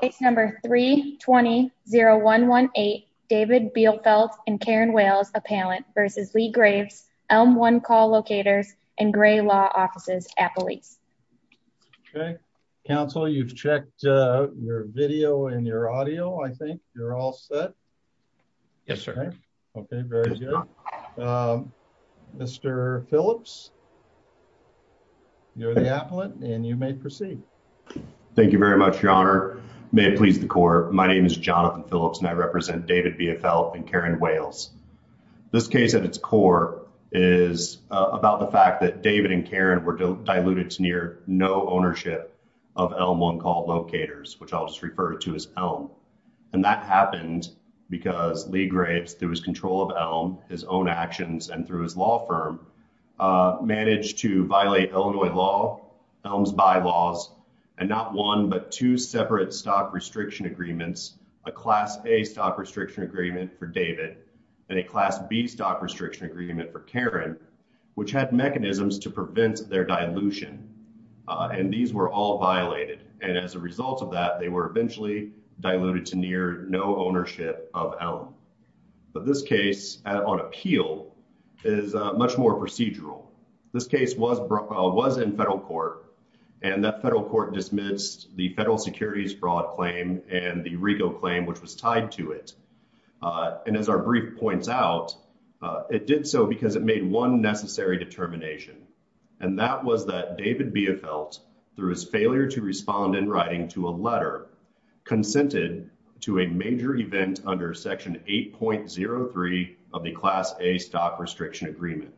case number 320118 David Biefeldt and Karen Wales appellant versus Lee Graves elm one call locators and gray law offices appellates okay counsel you've checked uh your video and your audio i think you're all set yes sir okay very good um mr phillips you're the appellate and you may proceed thank you very much your honor may it please the court my name is jonathan phillips and i represent david biefeldt and karen wales this case at its core is about the fact that david and karen were diluted to near no ownership of elm one called locators which i'll just refer to as elm and that happened because lee grapes through his control of his own actions and through his law firm managed to violate illinois law elms bylaws and not one but two separate stock restriction agreements a class a stock restriction agreement for david and a class b stock restriction agreement for karen which had mechanisms to prevent their dilution and these were all violated and as a result of that they were eventually diluted to near no ownership of elm but this case on appeal is much more procedural this case was brought was in federal court and that federal court dismissed the federal securities broad claim and the regal claim which was tied to it and as our brief points out it did so because it made one necessary determination and that was that david biefeldt through his failure to respond in writing to a letter consented to a major event under section 8.03 of the class a stock restriction agreement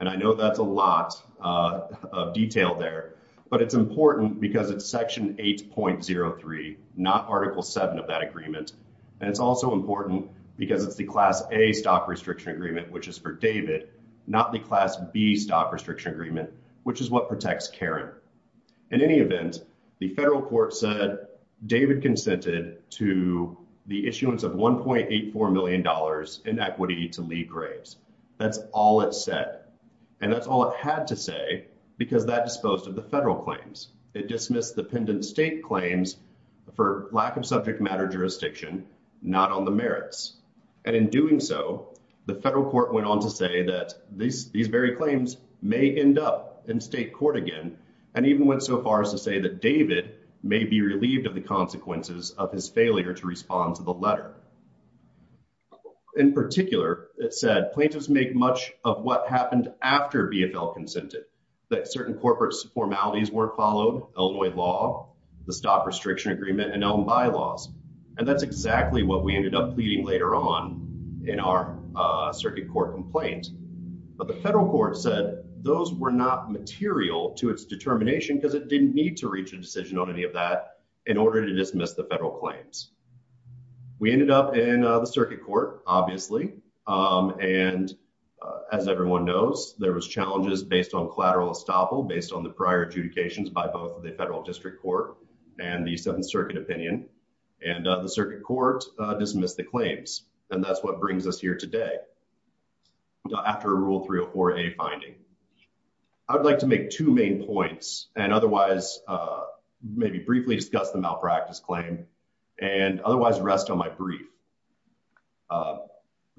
and i know that's a lot of detail there but it's important because it's section 8.03 not article 7 of that agreement and it's also important because it's the class a stock restriction agreement which is for david not the class b stock restriction agreement which protects karen in any event the federal court said david consented to the issuance of 1.84 million dollars in equity to lee graves that's all it said and that's all it had to say because that disposed of the federal claims it dismissed the pendant state claims for lack of subject matter jurisdiction not on the merits and in doing so the federal court went on to say that these these very claims may end up in state court again and even went so far as to say that david may be relieved of the consequences of his failure to respond to the letter in particular it said plaintiffs make much of what happened after bfl consented that certain corporate formalities were followed illinois law the stock restriction agreement and elm bylaws and that's exactly what we ended up pleading later on in our uh circuit court complaint but the federal court said those were not material to its determination because it didn't need to reach a decision on any of that in order to dismiss the federal claims we ended up in the circuit court obviously um and as everyone knows there was challenges based on collateral estoppel based on the prior adjudications by both the federal district court and the seventh circuit opinion and the circuit court dismissed the claims and that's what brings us here today after rule 304a finding i would like to make two main points and otherwise uh maybe briefly discuss the malpractice claim and otherwise rest on my brief uh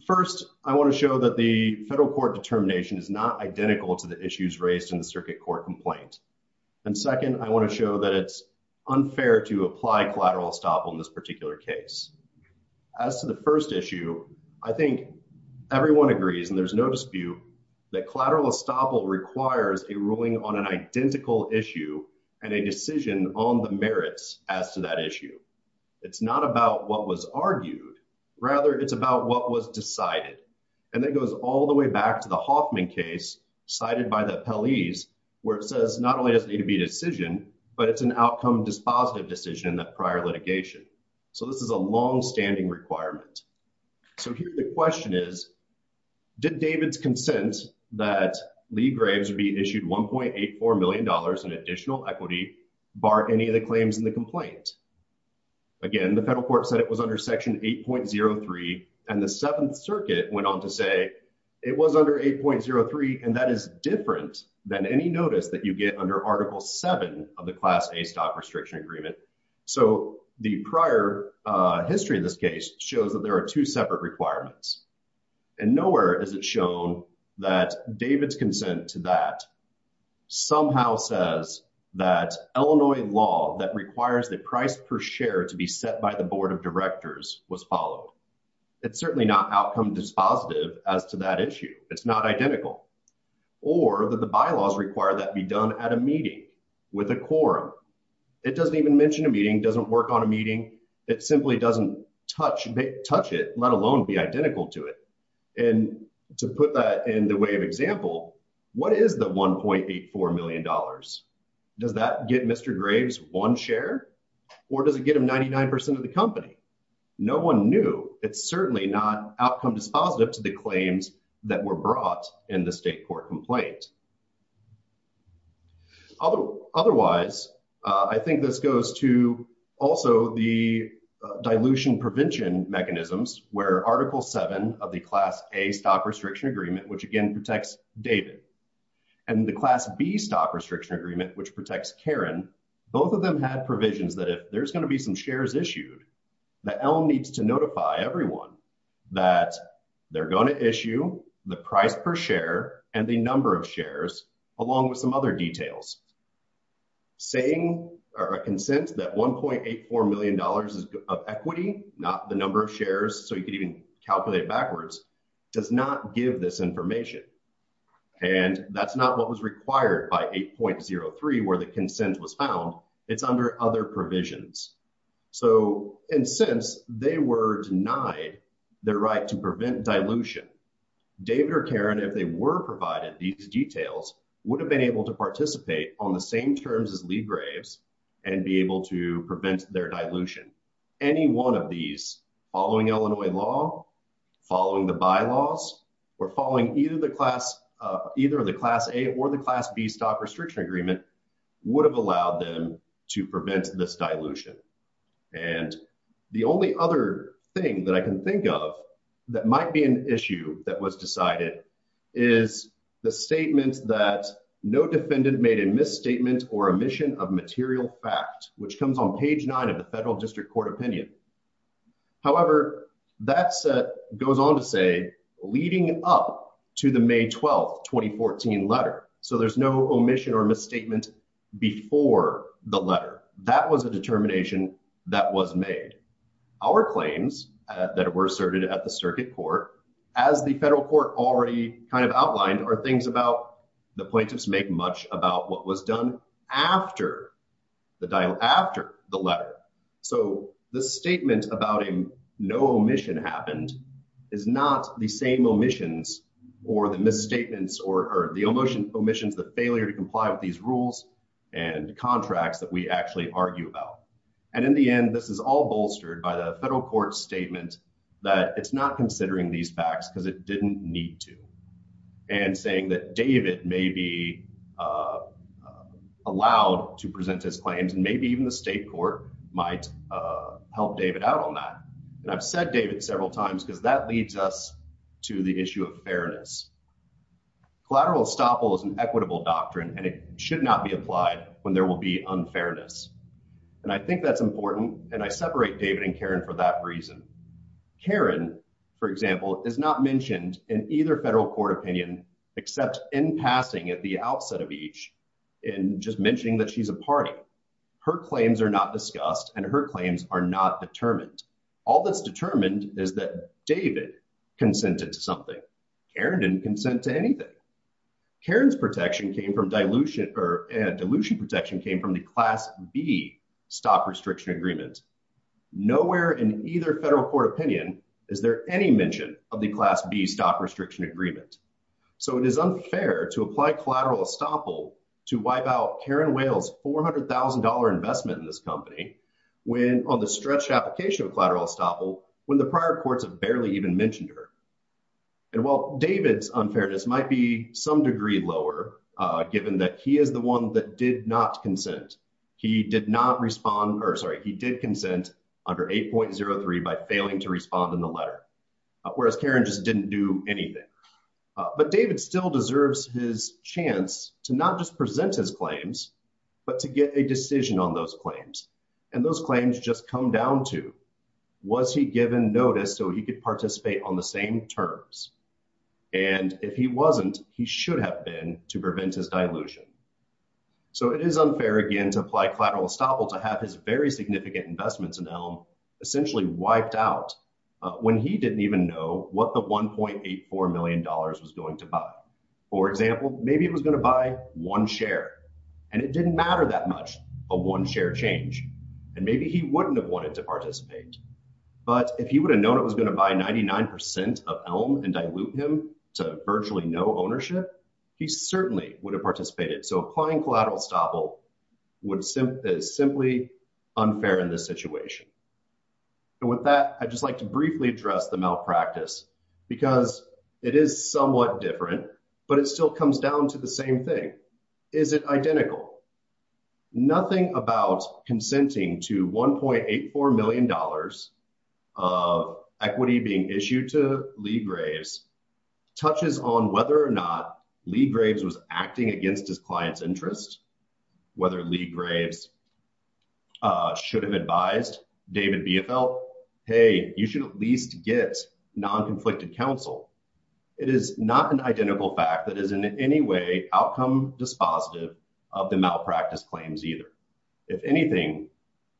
first i want to show that the federal court determination is not identical to the issues raised in the circuit court complaint and second i want to show that it's unfair to apply collateral estoppel in this particular case as to the first issue i think everyone agrees and there's no dispute that collateral estoppel requires a ruling on an identical issue and a decision on the merits as to that issue it's not about what was argued rather it's about what was decided and that goes all the way back to the hoffman case cited by the appellees where it says not only does it need to be a decision but it's an outcome dispositive decision in that prior litigation so this is a long-standing requirement so here the question is did david's consent that lee graves would be issued 1.84 million dollars in additional equity bar any of the claims in the complaint again the federal court said it was under section 8.03 and the seventh circuit went on to say it was under 8.03 and that is different than any notice that you get under article 7 of the class a stock restriction agreement so the prior uh history of this case shows that there are two separate requirements and nowhere is it shown that david's consent to that somehow says that illinois law that requires the price per share to be set by the board of directors was followed it's certainly not outcome dispositive as to that issue it's not identical or that the bylaws require that be done at a meeting with a quorum it doesn't even mention a meeting doesn't work on a meeting it simply doesn't touch touch it let alone be identical to it and to put that in the way of or does it get them 99 of the company no one knew it's certainly not outcome dispositive to the claims that were brought in the state court complaint otherwise i think this goes to also the dilution prevention mechanisms where article seven of the class a stock restriction agreement which again protects david and the class b stock restriction agreement which protects karen both of them had provisions that if there's going to be some shares issued the elm needs to notify everyone that they're going to issue the price per share and the number of shares along with some other details saying or a consent that 1.84 million dollars is of equity not the number of shares so you could even calculate backwards does not give this information and that's not what was required by 8.03 where the consent was found it's under other provisions so and since they were denied their right to prevent dilution david or karen if they were provided these details would have been able to participate on the same terms as lee graves and be able to prevent their dilution any one of these following illinois law following the bylaws or following either the class uh either of the class a or the class b stop restriction agreement would have allowed them to prevent this dilution and the only other thing that i can think of that might be an issue that was decided is the statement that no defendant made a misstatement or omission of material fact which comes on page nine of the that set goes on to say leading up to the may 12 2014 letter so there's no omission or misstatement before the letter that was a determination that was made our claims that were asserted at the circuit court as the federal court already kind of outlined are things about the plaintiffs make what was done after the dial after the letter so the statement about him no omission happened is not the same omissions or the misstatements or the emotion omissions the failure to comply with these rules and contracts that we actually argue about and in the end this is all bolstered by the federal court statement that it's not considering these facts because it didn't need to and saying that david may be uh allowed to present his claims and maybe even the state court might uh help david out on that and i've said david several times because that leads us to the issue of fairness collateral estoppel is an equitable doctrine and it should not be applied when there will be unfairness and i think that's important and i separate david and karen for that karen for example is not mentioned in either federal court opinion except in passing at the outset of each in just mentioning that she's a party her claims are not discussed and her claims are not determined all that's determined is that david consented to something karen didn't consent to anything karen's protection came from dilution or dilution protection came from the class b stock restriction agreement nowhere in either federal court opinion is there any mention of the class b stock restriction agreement so it is unfair to apply collateral estoppel to wipe out karen wale's 400 000 investment in this company when on the stretched application of collateral estoppel when the prior courts have barely even mentioned her and while david's unfairness might some degree lower uh given that he is the one that did not consent he did not respond or sorry he did consent under 8.03 by failing to respond in the letter whereas karen just didn't do anything but david still deserves his chance to not just present his claims but to get a decision on those claims and those claims just come down to was he given notice so he could participate on the same terms and if he wasn't he should have been to prevent his dilution so it is unfair again to apply collateral estoppel to have his very significant investments in elm essentially wiped out when he didn't even know what the 1.84 million dollars was going to buy for example maybe it was going to buy one share and it didn't matter that much a one share change and maybe he wouldn't have wanted to participate but if he would have known it was going to buy 99 of elm and dilute him to virtually no ownership he certainly would have participated so applying collateral estoppel would simply is simply unfair in this situation and with that i'd just like to briefly address the malpractice because it is somewhat different but it still comes down to the same thing is it identical nothing about consenting to 1.84 million dollars of equity being issued to lee graves touches on whether or not lee graves was acting against his client's interest whether lee graves uh should have advised david bfl hey you should at least get non-conflicted counsel it is not an identical fact that is in any way outcome dispositive of the malpractice claims either if anything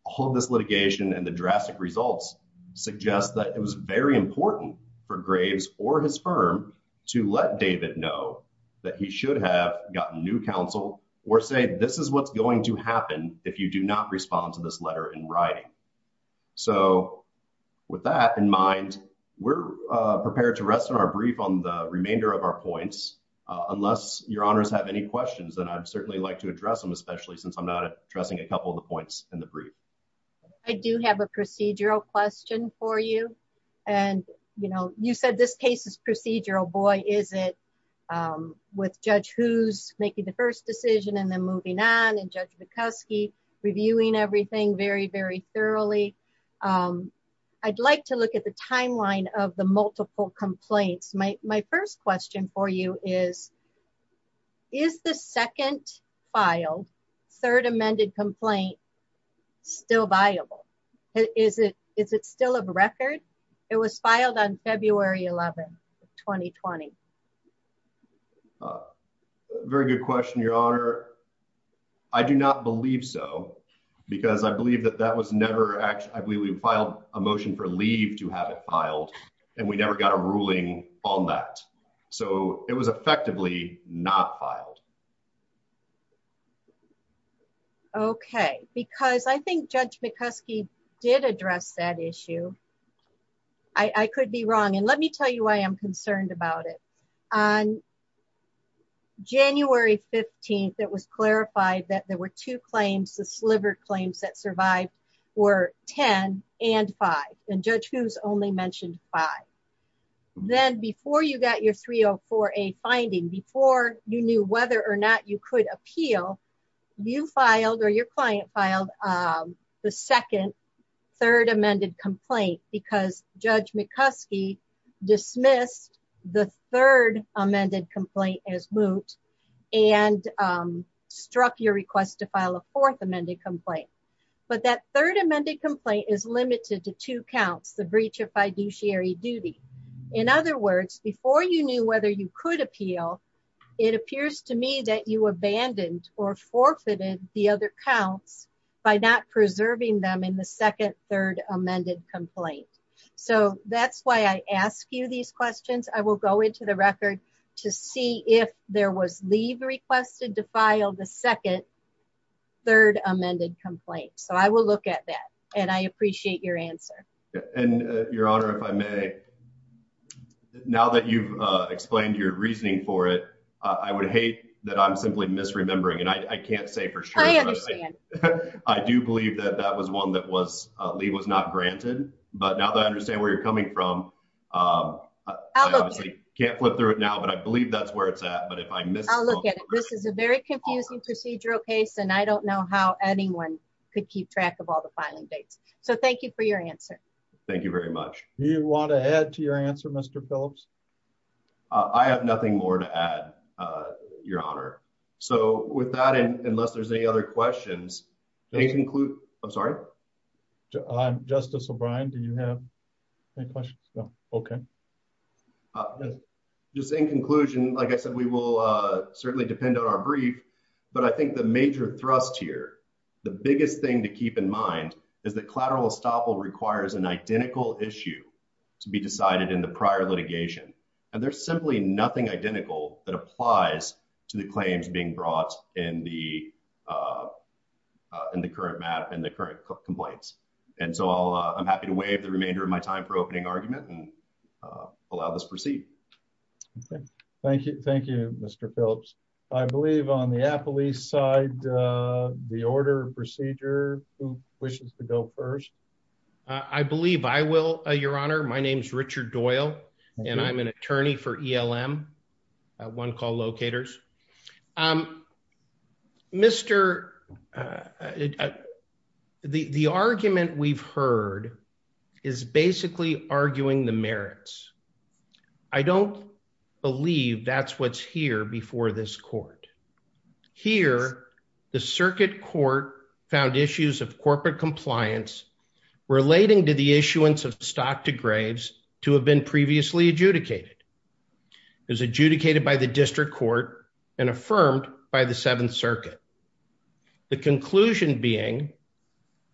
all of this litigation and the drastic results suggest that it was very important for graves or his firm to let david know that he should have gotten new counsel or say this is what's going to happen if you do not respond to this letter in writing so with that in mind we're uh prepared to rest on our brief on the remainder of our points unless your honors have any questions and i'd certainly like to address them especially since i'm not addressing a couple of the points in the brief i do have a procedural question for you and you know you said this case is procedural boy is it um with judge who's making the first decision and then moving on and judge vikoski reviewing everything very very thoroughly um i'd like to look at the timeline of the multiple complaints my my first question for you is is the second file third amended complaint still viable is it is it still a record it was filed on february 11 2020 very good question your honor i do not believe so because i believe that that was never actually i believe we filed a motion for leave to have it filed and we never got a ruling on that so it was effectively not filed okay because i think judge mccuskey did address that issue i i could be wrong and let me tell you i am concerned about it on january 15th it was clarified that there were two claims the sliver claims that survived were 10 and 5 and judge who's only mentioned 5 then before you got your 304 a finding before you knew whether or not you could appeal you filed or your client filed um the second third amended complaint because judge mccuskey dismissed the third amended complaint as moot and um struck your request to file a fourth amended complaint but that third amended complaint is limited to two counts the breach of fiduciary duty in other words before you knew whether you could appeal it appears to me that you abandoned or forfeited the other counts by not preserving them in the second third amended complaint so that's why i ask you these questions i will go into the record to see if there was leave requested to file the second third amended complaint so i will look at that and i appreciate your answer and your honor if i may now that you've uh explained your reasoning for it i would hate that i'm simply misremembering and i can't say for sure i understand i do believe that that was one that was uh lee was not granted but now that i understand where you're coming from um i obviously can't flip through it now but i believe that's where it's at but if i miss i'll look at it this is a very confusing procedural case and i don't know how anyone could keep track of all the filing dates so thank you for your answer thank you very much you want to add to your answer mr phillips i have nothing more to add uh your honor so with that and unless there's any other questions they include i'm sorry i'm justice o'brien do you have any questions no okay just in conclusion like i said we will uh certainly depend on our brief but i think the major thrust here the biggest thing to keep in mind is that collateral estoppel requires an identical issue to be decided in the prior litigation and there's simply nothing identical that applies to the claims being brought in the uh in the current map and the current complaints and so i'll i'm happy to waive the remainder of my time for opening argument and allow this proceed okay thank you thank you mr phillips i believe on the apple east side uh the order procedure who wishes to go first i believe i will uh your honor my name is richard doyle and i'm an attorney for elm one call locators um mr uh the the argument we've heard is basically arguing the merits i don't believe that's what's here before this court here the circuit court found issues of corporate compliance relating to the issuance of stock to graves to have been previously adjudicated it was adjudicated by the district court and affirmed by the seventh circuit the conclusion being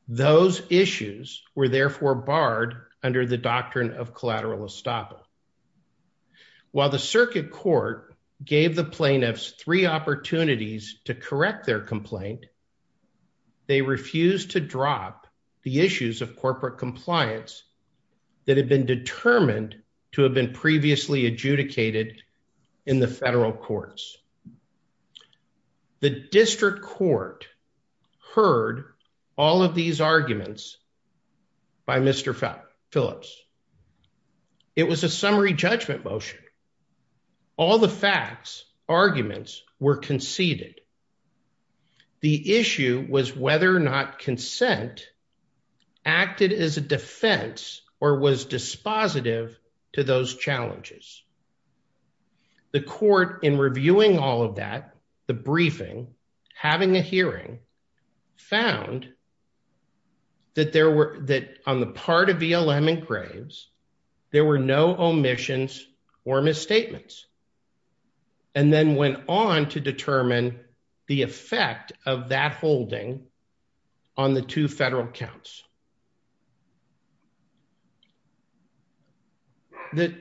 those issues were therefore barred under the doctrine of collateral estoppel while the circuit court gave the plaintiffs three opportunities to correct their complaint they refused to drop the issues of corporate compliance that had been determined to have been previously adjudicated in the federal courts the district court heard all of these arguments by mr phillips it was a summary judgment motion all the facts arguments were conceded the issue was whether or not consent acted as a defense or was dispositive to those challenges the court in reviewing all of that the briefing having a hearing found that there were that on the part of elm and graves there were no omissions or misstatements and then went on to determine the effect of that holding on the two federal counts the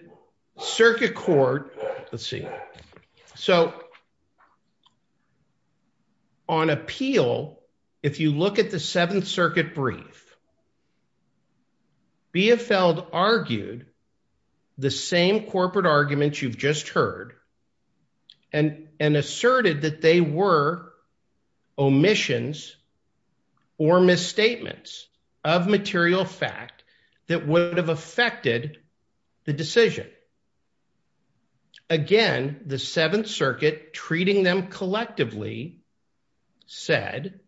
circuit court let's see so on appeal if you look at the seventh circuit brief bfld argued the same corporate arguments you've just heard and and asserted that they were omissions or misstatements of material fact that would have affected the decision again the seventh circuit treating them collectively said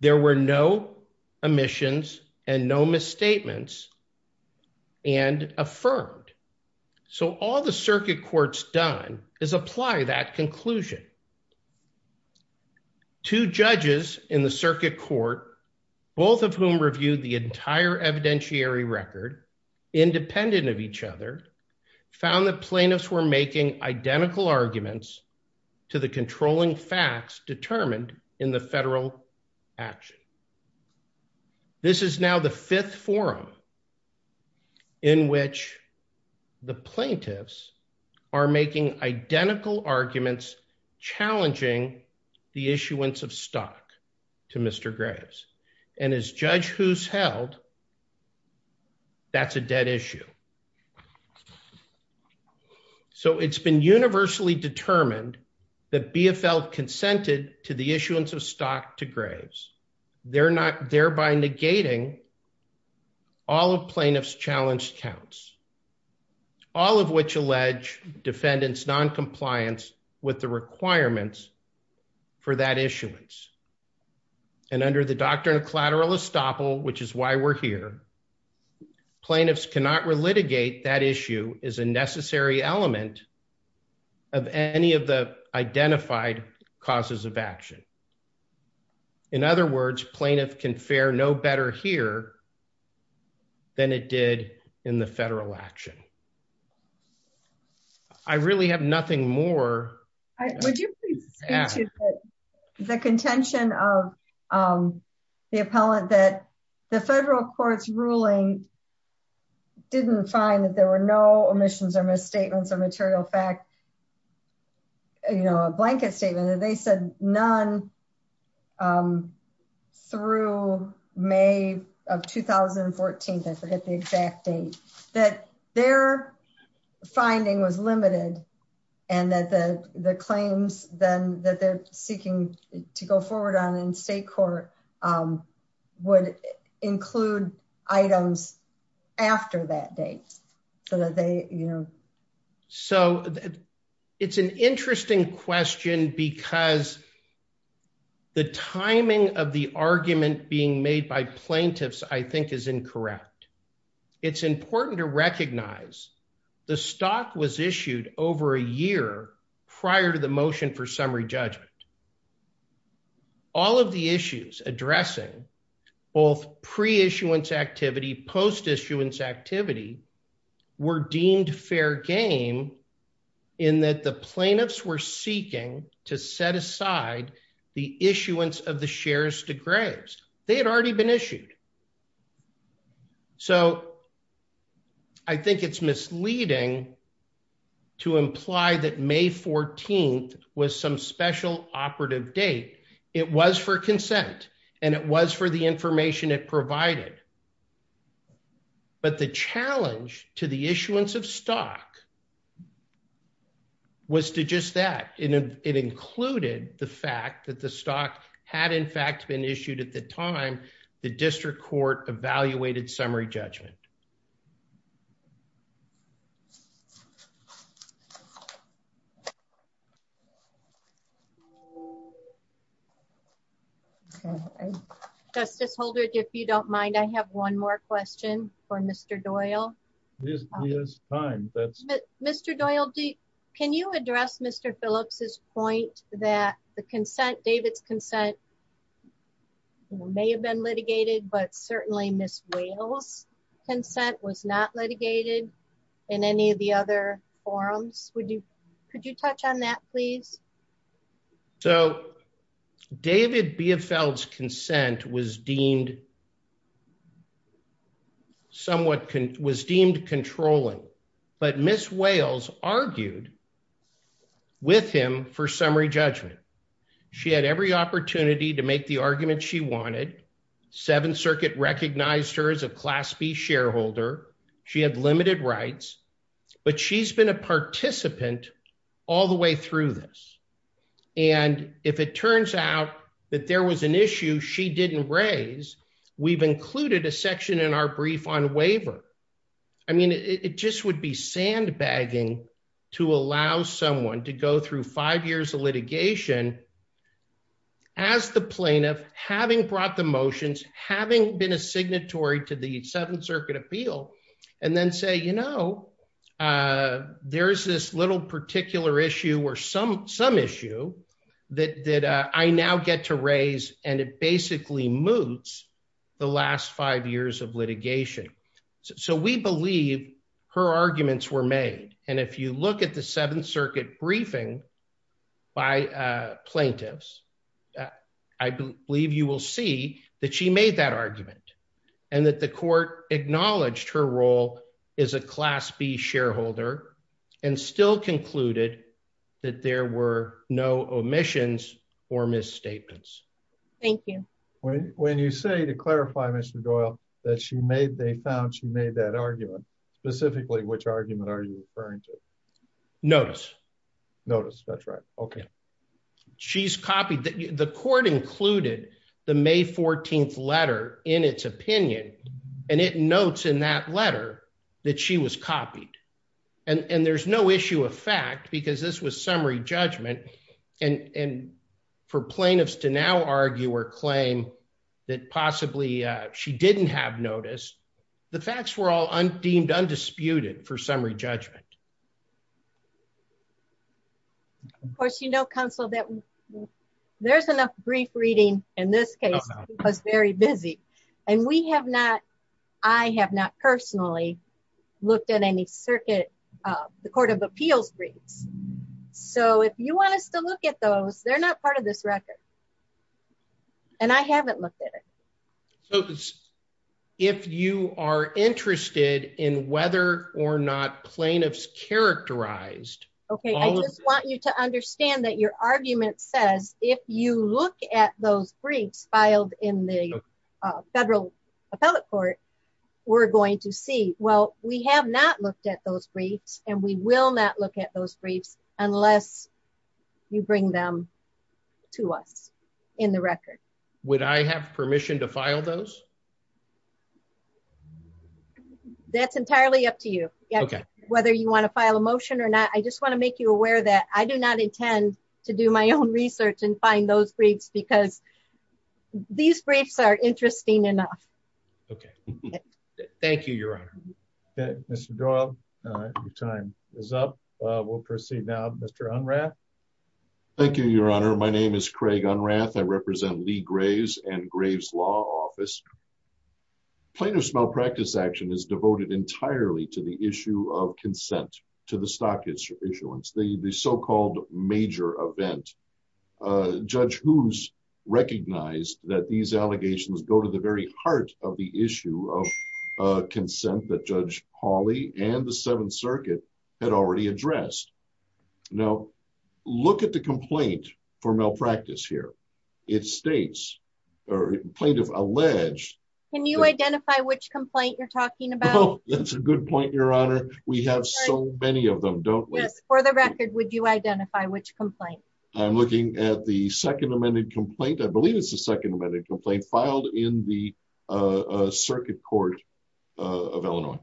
there were no omissions and no misstatements and affirmed so all the circuit court's done is apply that conclusion two judges in the circuit court both of whom reviewed the entire evidentiary record independent of each other found that plaintiffs were making identical arguments to the controlling facts determined in the federal action this is now the fifth forum in which the plaintiffs are making identical arguments challenging the issuance of stock to mr graves and as judge who's held that's a dead issue so it's been universally determined that bfl consented to the issuance of stock to graves they're not thereby negating all of plaintiffs challenged counts all of which allege defendants non-compliance with the requirements for that issuance and under the doctrine of collateral estoppel which is why we're here plaintiffs cannot relitigate that issue is a necessary element of any of the identified causes of action in other words plaintiff can fare no better here than it did in the federal action i really have nothing more would you please the contention of um the appellant that the federal court's ruling didn't find that there were no omissions or misstatements or material fact you know a blanket statement that they said none um through may of 2014 i forget the exact date that their finding was limited and that the the claims then that they're seeking to go forward on in state court um would include items after that date so that they you know so it's an interesting question because the timing of the argument being made by plaintiffs i think is incorrect it's important to recognize the stock was issued over a year prior to the motion for all of the issues addressing both pre-issuance activity post-issuance activity were deemed fair game in that the plaintiffs were seeking to set aside the issuance of the shares to graves they had already been issued so i think it's misleading to imply that may 14th was some special operative date it was for consent and it was for the information it provided but the challenge to the issuance of stock was to just that it included the fact that the stock had in fact been issued at the time the district court evaluated summary judgment okay justice holder if you don't mind i have one more question for mr doyle mr doyle d can you address mr phillips's point that the consent david's consent may have been litigated but certainly miss wales consent was not litigated in any of the other forums would you could you touch on that please so david biefeld's consent was deemed somewhat was deemed controlling but miss wales argued with him for summary judgment she had every opportunity to make the argument she wanted seventh circuit recognized her as a class b shareholder she had limited rights but she's been a participant all the way through this and if it turns out that there was an issue she didn't raise we've included a section in our brief on waiver i mean it just would be sandbagging to allow someone to go through five years of litigation as the plaintiff having brought the motions having been a signatory to the seventh circuit appeal and then say you know uh there's this little particular issue or some some issue that that i now get to raise and it basically moots the last five years of litigation so we believe her arguments were made and if you look at the seventh circuit briefing by plaintiffs i believe you will see that she made that argument and that the court acknowledged her role as a class b shareholder and still concluded that there were no omissions or misstatements thank you when you say to clarify mr doyle that she made they found she made that argument specifically which argument are you referring to notice notice that's right okay she's copied the court included the may 14th letter in its opinion and it notes in that letter that she was copied and and there's no issue of fact because this was summary judgment and and for plaintiffs to now argue or claim that possibly uh she didn't have notice the facts were all deemed undisputed for summary judgment of course you know counsel that there's enough brief reading in this case it was very busy and we have not i have not personally looked at any circuit uh the court of appeals briefs so if you want us to look at those they're not part of this record and i haven't looked at it so if you are interested in whether or not plaintiffs characterized okay i just want you to understand that your argument says if you look at those briefs filed in the federal appellate court we're going to see well we have not looked at those briefs and we will not look at those briefs unless you bring them to us in the record would i have permission to file those that's entirely up to you okay whether you want to file a motion or not i just want to make you aware that i do not intend to do my own research and find those briefs because these briefs are interesting enough okay thank you your honor okay mr doyle uh your time is up we'll proceed now mr unrath thank you your honor my name is craig unrath i represent lee graves and graves law office plaintiffs malpractice action is devoted entirely to the issue of consent to the stockage issuance the the so-called major event uh judge who's recognized that these allegations go to the very heart of the issue of uh consent that judge holly and the judge have addressed now look at the complaint for malpractice here it states or plaintiff alleged can you identify which complaint you're talking about that's a good point your honor we have so many of them don't let's for the record would you identify which complaint i'm looking at the second amended complaint i believe it's the second amended complaint filed in the uh circuit court of illinois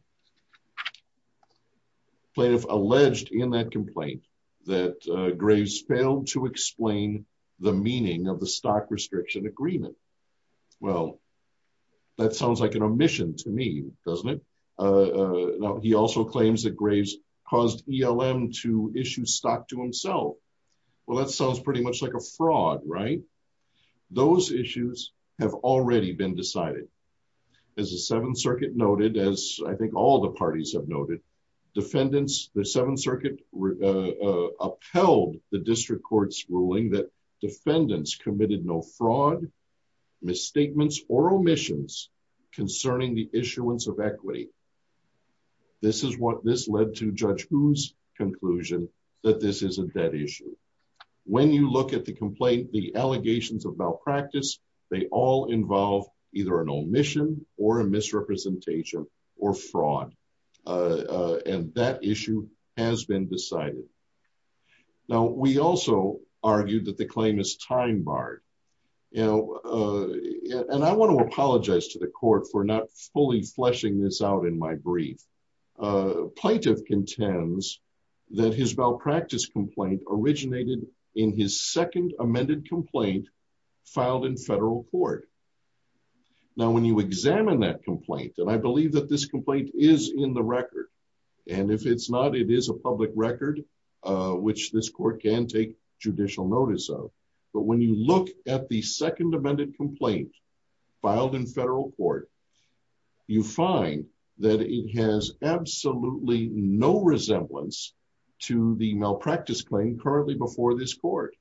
plaintiff alleged in that complaint that graves failed to explain the meaning of the stock restriction agreement well that sounds like an omission to me doesn't it uh he also claims that graves caused elm to issue stock to himself well that sounds pretty much like a fraud right those issues have already been decided as the seventh circuit noted as i think all the parties have noted defendants the seventh circuit uh upheld the district court's ruling that defendants committed no fraud misstatements or omissions concerning the issuance of equity this is what judge who's conclusion that this isn't that issue when you look at the complaint the allegations of malpractice they all involve either an omission or a misrepresentation or fraud uh and that issue has been decided now we also argued that the claim is time barred you know uh and i want to contends that his malpractice complaint originated in his second amended complaint filed in federal court now when you examine that complaint and i believe that this complaint is in the record and if it's not it is a public record uh which this court can take judicial notice of but when you look at the second amended complaint filed in federal court you find that it has absolutely no resemblance to the malpractice claim currently before this court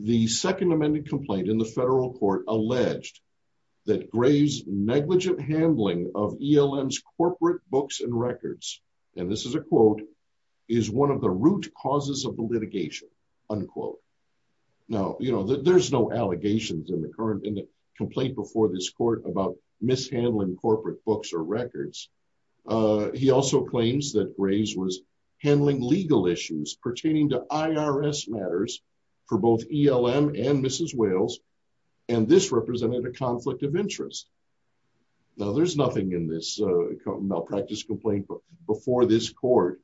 the second amended complaint in the federal court alleged that graves negligent handling of elm's corporate books and records and this is a quote is one of the root causes of the litigation unquote now you know there's no allegations in the current in the complaint before this court about mishandling corporate books or records uh he also claims that graves was handling legal issues pertaining to irs matters for both elm and mrs wales and this represented a conflict of interest now there's nothing in this uh malpractice complaint but before this court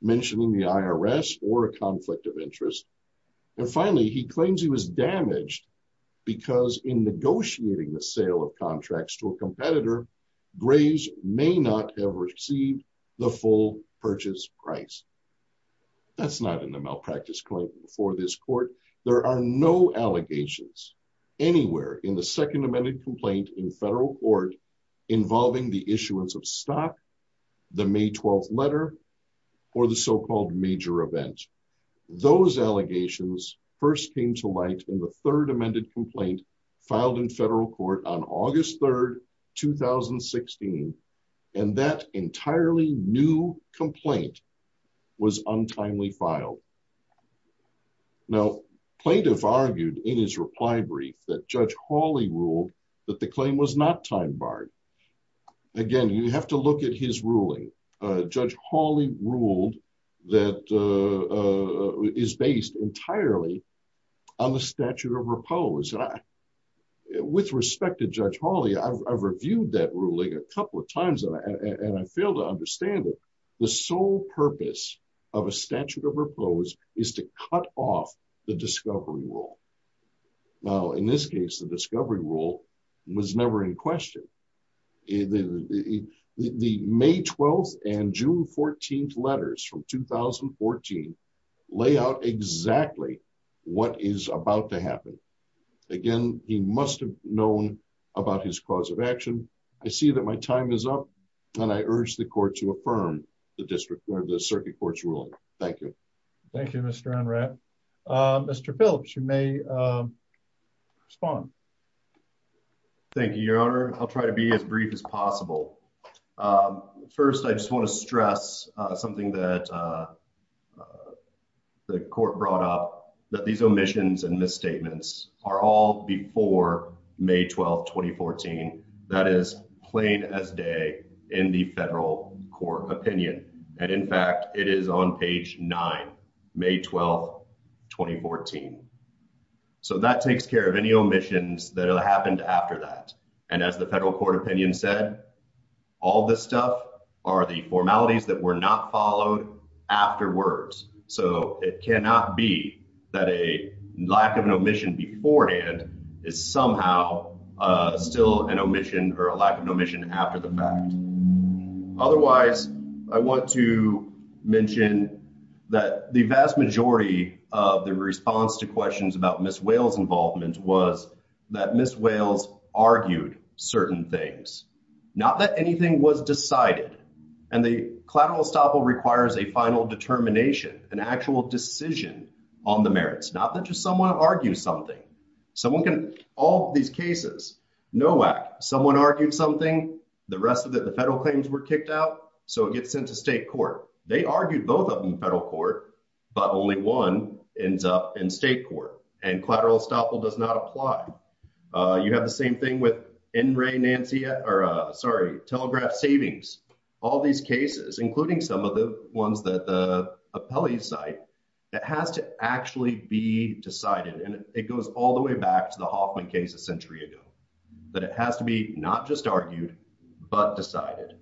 mentioning the irs or a conflict of interest and finally he claims he was damaged because in negotiating the sale of contracts to a competitor graves may not have received the full purchase price that's not in the malpractice claim before this court there are no allegations anywhere in the second amended complaint in federal court involving the issuance of stock the may 12th letter or the so-called major event those allegations first came to light in the third amended complaint filed in federal court on august 3rd 2016 and that entirely new complaint was untimely filed now plaintiff argued in his reply brief that judge hawley ruled that the claim was not time barred again you have to look at his ruling uh judge hawley ruled that is based entirely on the statute of repose and i with respect to judge hawley i've reviewed that ruling a couple of times and i and i fail to understand it the sole purpose of a statute is to cut off the discovery rule now in this case the discovery rule was never in question the may 12th and june 14th letters from 2014 lay out exactly what is about to happen again he must have known about his cause of action i see that my time is up and i urge the court to affirm the district where the circuit court's ruling thank you thank you mr on rep uh mr phillips you may um respond thank you your honor i'll try to be as brief as possible um first i just want to stress uh something that uh the court brought up that these omissions and court opinion and in fact it is on page 9 may 12 2014 so that takes care of any omissions that happened after that and as the federal court opinion said all this stuff are the formalities that were not followed afterwards so it cannot be that a lack of an omission beforehand is somehow uh still an omission or a lack of omission after the fact otherwise i want to mention that the vast majority of the response to questions about miss wales involvement was that miss wales argued certain things not that anything was decided and the collateral estoppel requires a final determination an actual decision on the merits not that just someone argues something someone can all these cases no whack someone argued something the rest of the federal claims were kicked out so it gets sent to state court they argued both of them federal court but only one ends up in state court and collateral estoppel does not apply uh you have the same thing with in rey nancy or uh sorry telegraph savings all these cases including some of the ones that the appellees cite that has to actually be decided and it goes all the way back to the hoffman case a century ago that it has to be not just argued but decided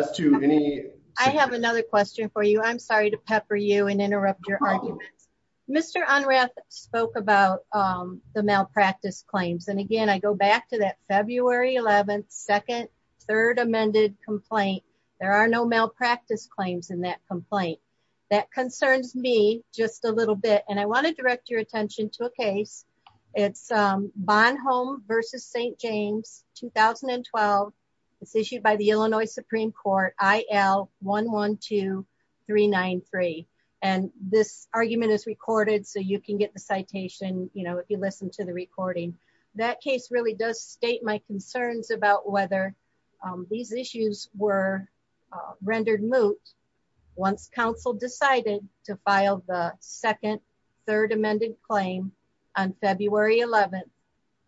as to any i have another question for you i'm sorry to pepper you and interrupt your arguments mr unref spoke about um the malpractice claims and again i go back to that february 11th third amended complaint there are no malpractice claims in that complaint that concerns me just a little bit and i want to direct your attention to a case it's um bonhomme versus saint james 2012 it's issued by the illinois supreme court il one one two three nine three and this argument is recorded so you can get the citation you know you listen to the recording that case really does state my concerns about whether um these issues were rendered moot once council decided to file the second third amended claim on february 11th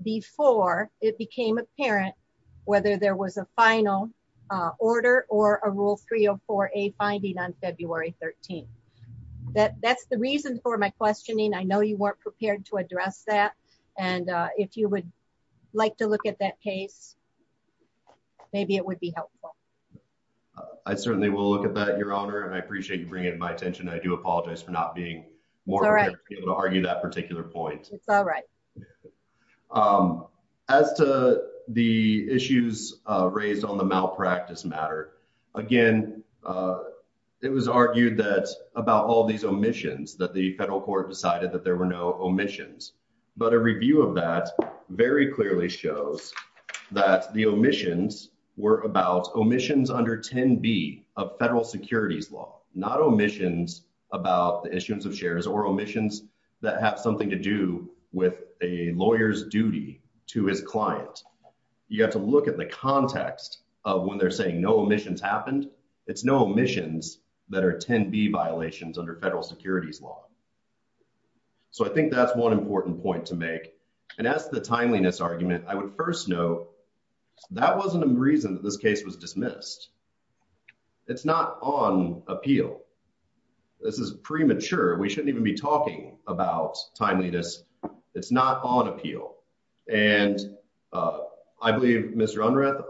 before it became apparent whether there was a final uh order or a rule 304a finding on february 13th that that's the reason for my questioning i know you weren't prepared to address that and uh if you would like to look at that case maybe it would be helpful i certainly will look at that your honor and i appreciate you bringing my attention i do apologize for not being more able to argue that particular point it's all right um as to the issues uh raised on the matter again uh it was argued that about all these omissions that the federal court decided that there were no omissions but a review of that very clearly shows that the omissions were about omissions under 10b of federal securities law not omissions about the issuance of shares or omissions that have something to do with a lawyer's duty to his client you have to look at the context of when they're saying no omissions happened it's no omissions that are 10b violations under federal securities law so i think that's one important point to make and as the timeliness argument i would first note that wasn't a reason that this case was dismissed it's not on appeal this is premature we shouldn't even be talking about timeliness it's not on appeal and i believe mr unreth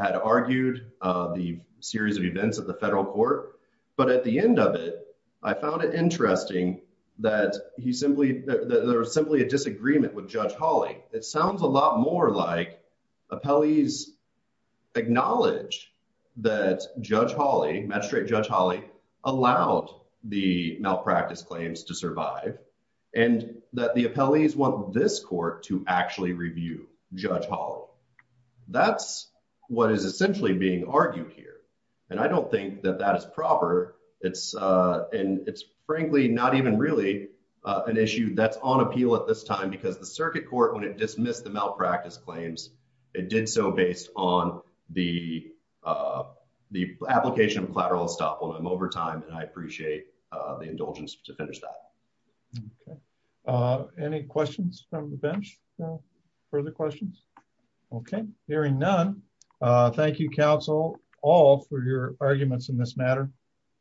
had argued uh the series of events at the federal court but at the end of it i found it interesting that he simply that there was simply a disagreement with judge holly it sounds a lot more like appellees acknowledged that judge holly magistrate judge holly allowed the malpractice claims to survive and that the appellees want this court to actually review judge holly that's what is essentially being argued here and i don't think that that is proper it's uh and it's frankly not even really uh an issue that's on appeal at this time because the circuit court when it dismissed the malpractice claims it did so based on the uh the application of collateral estoppel i'm over time and i appreciate uh the indulgence to finish that okay uh any questions from the bench no further questions okay hearing none uh thank you counsel all for your arguments in this matter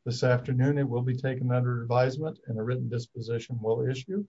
this afternoon it will be taken under advisement and a written disposition will issue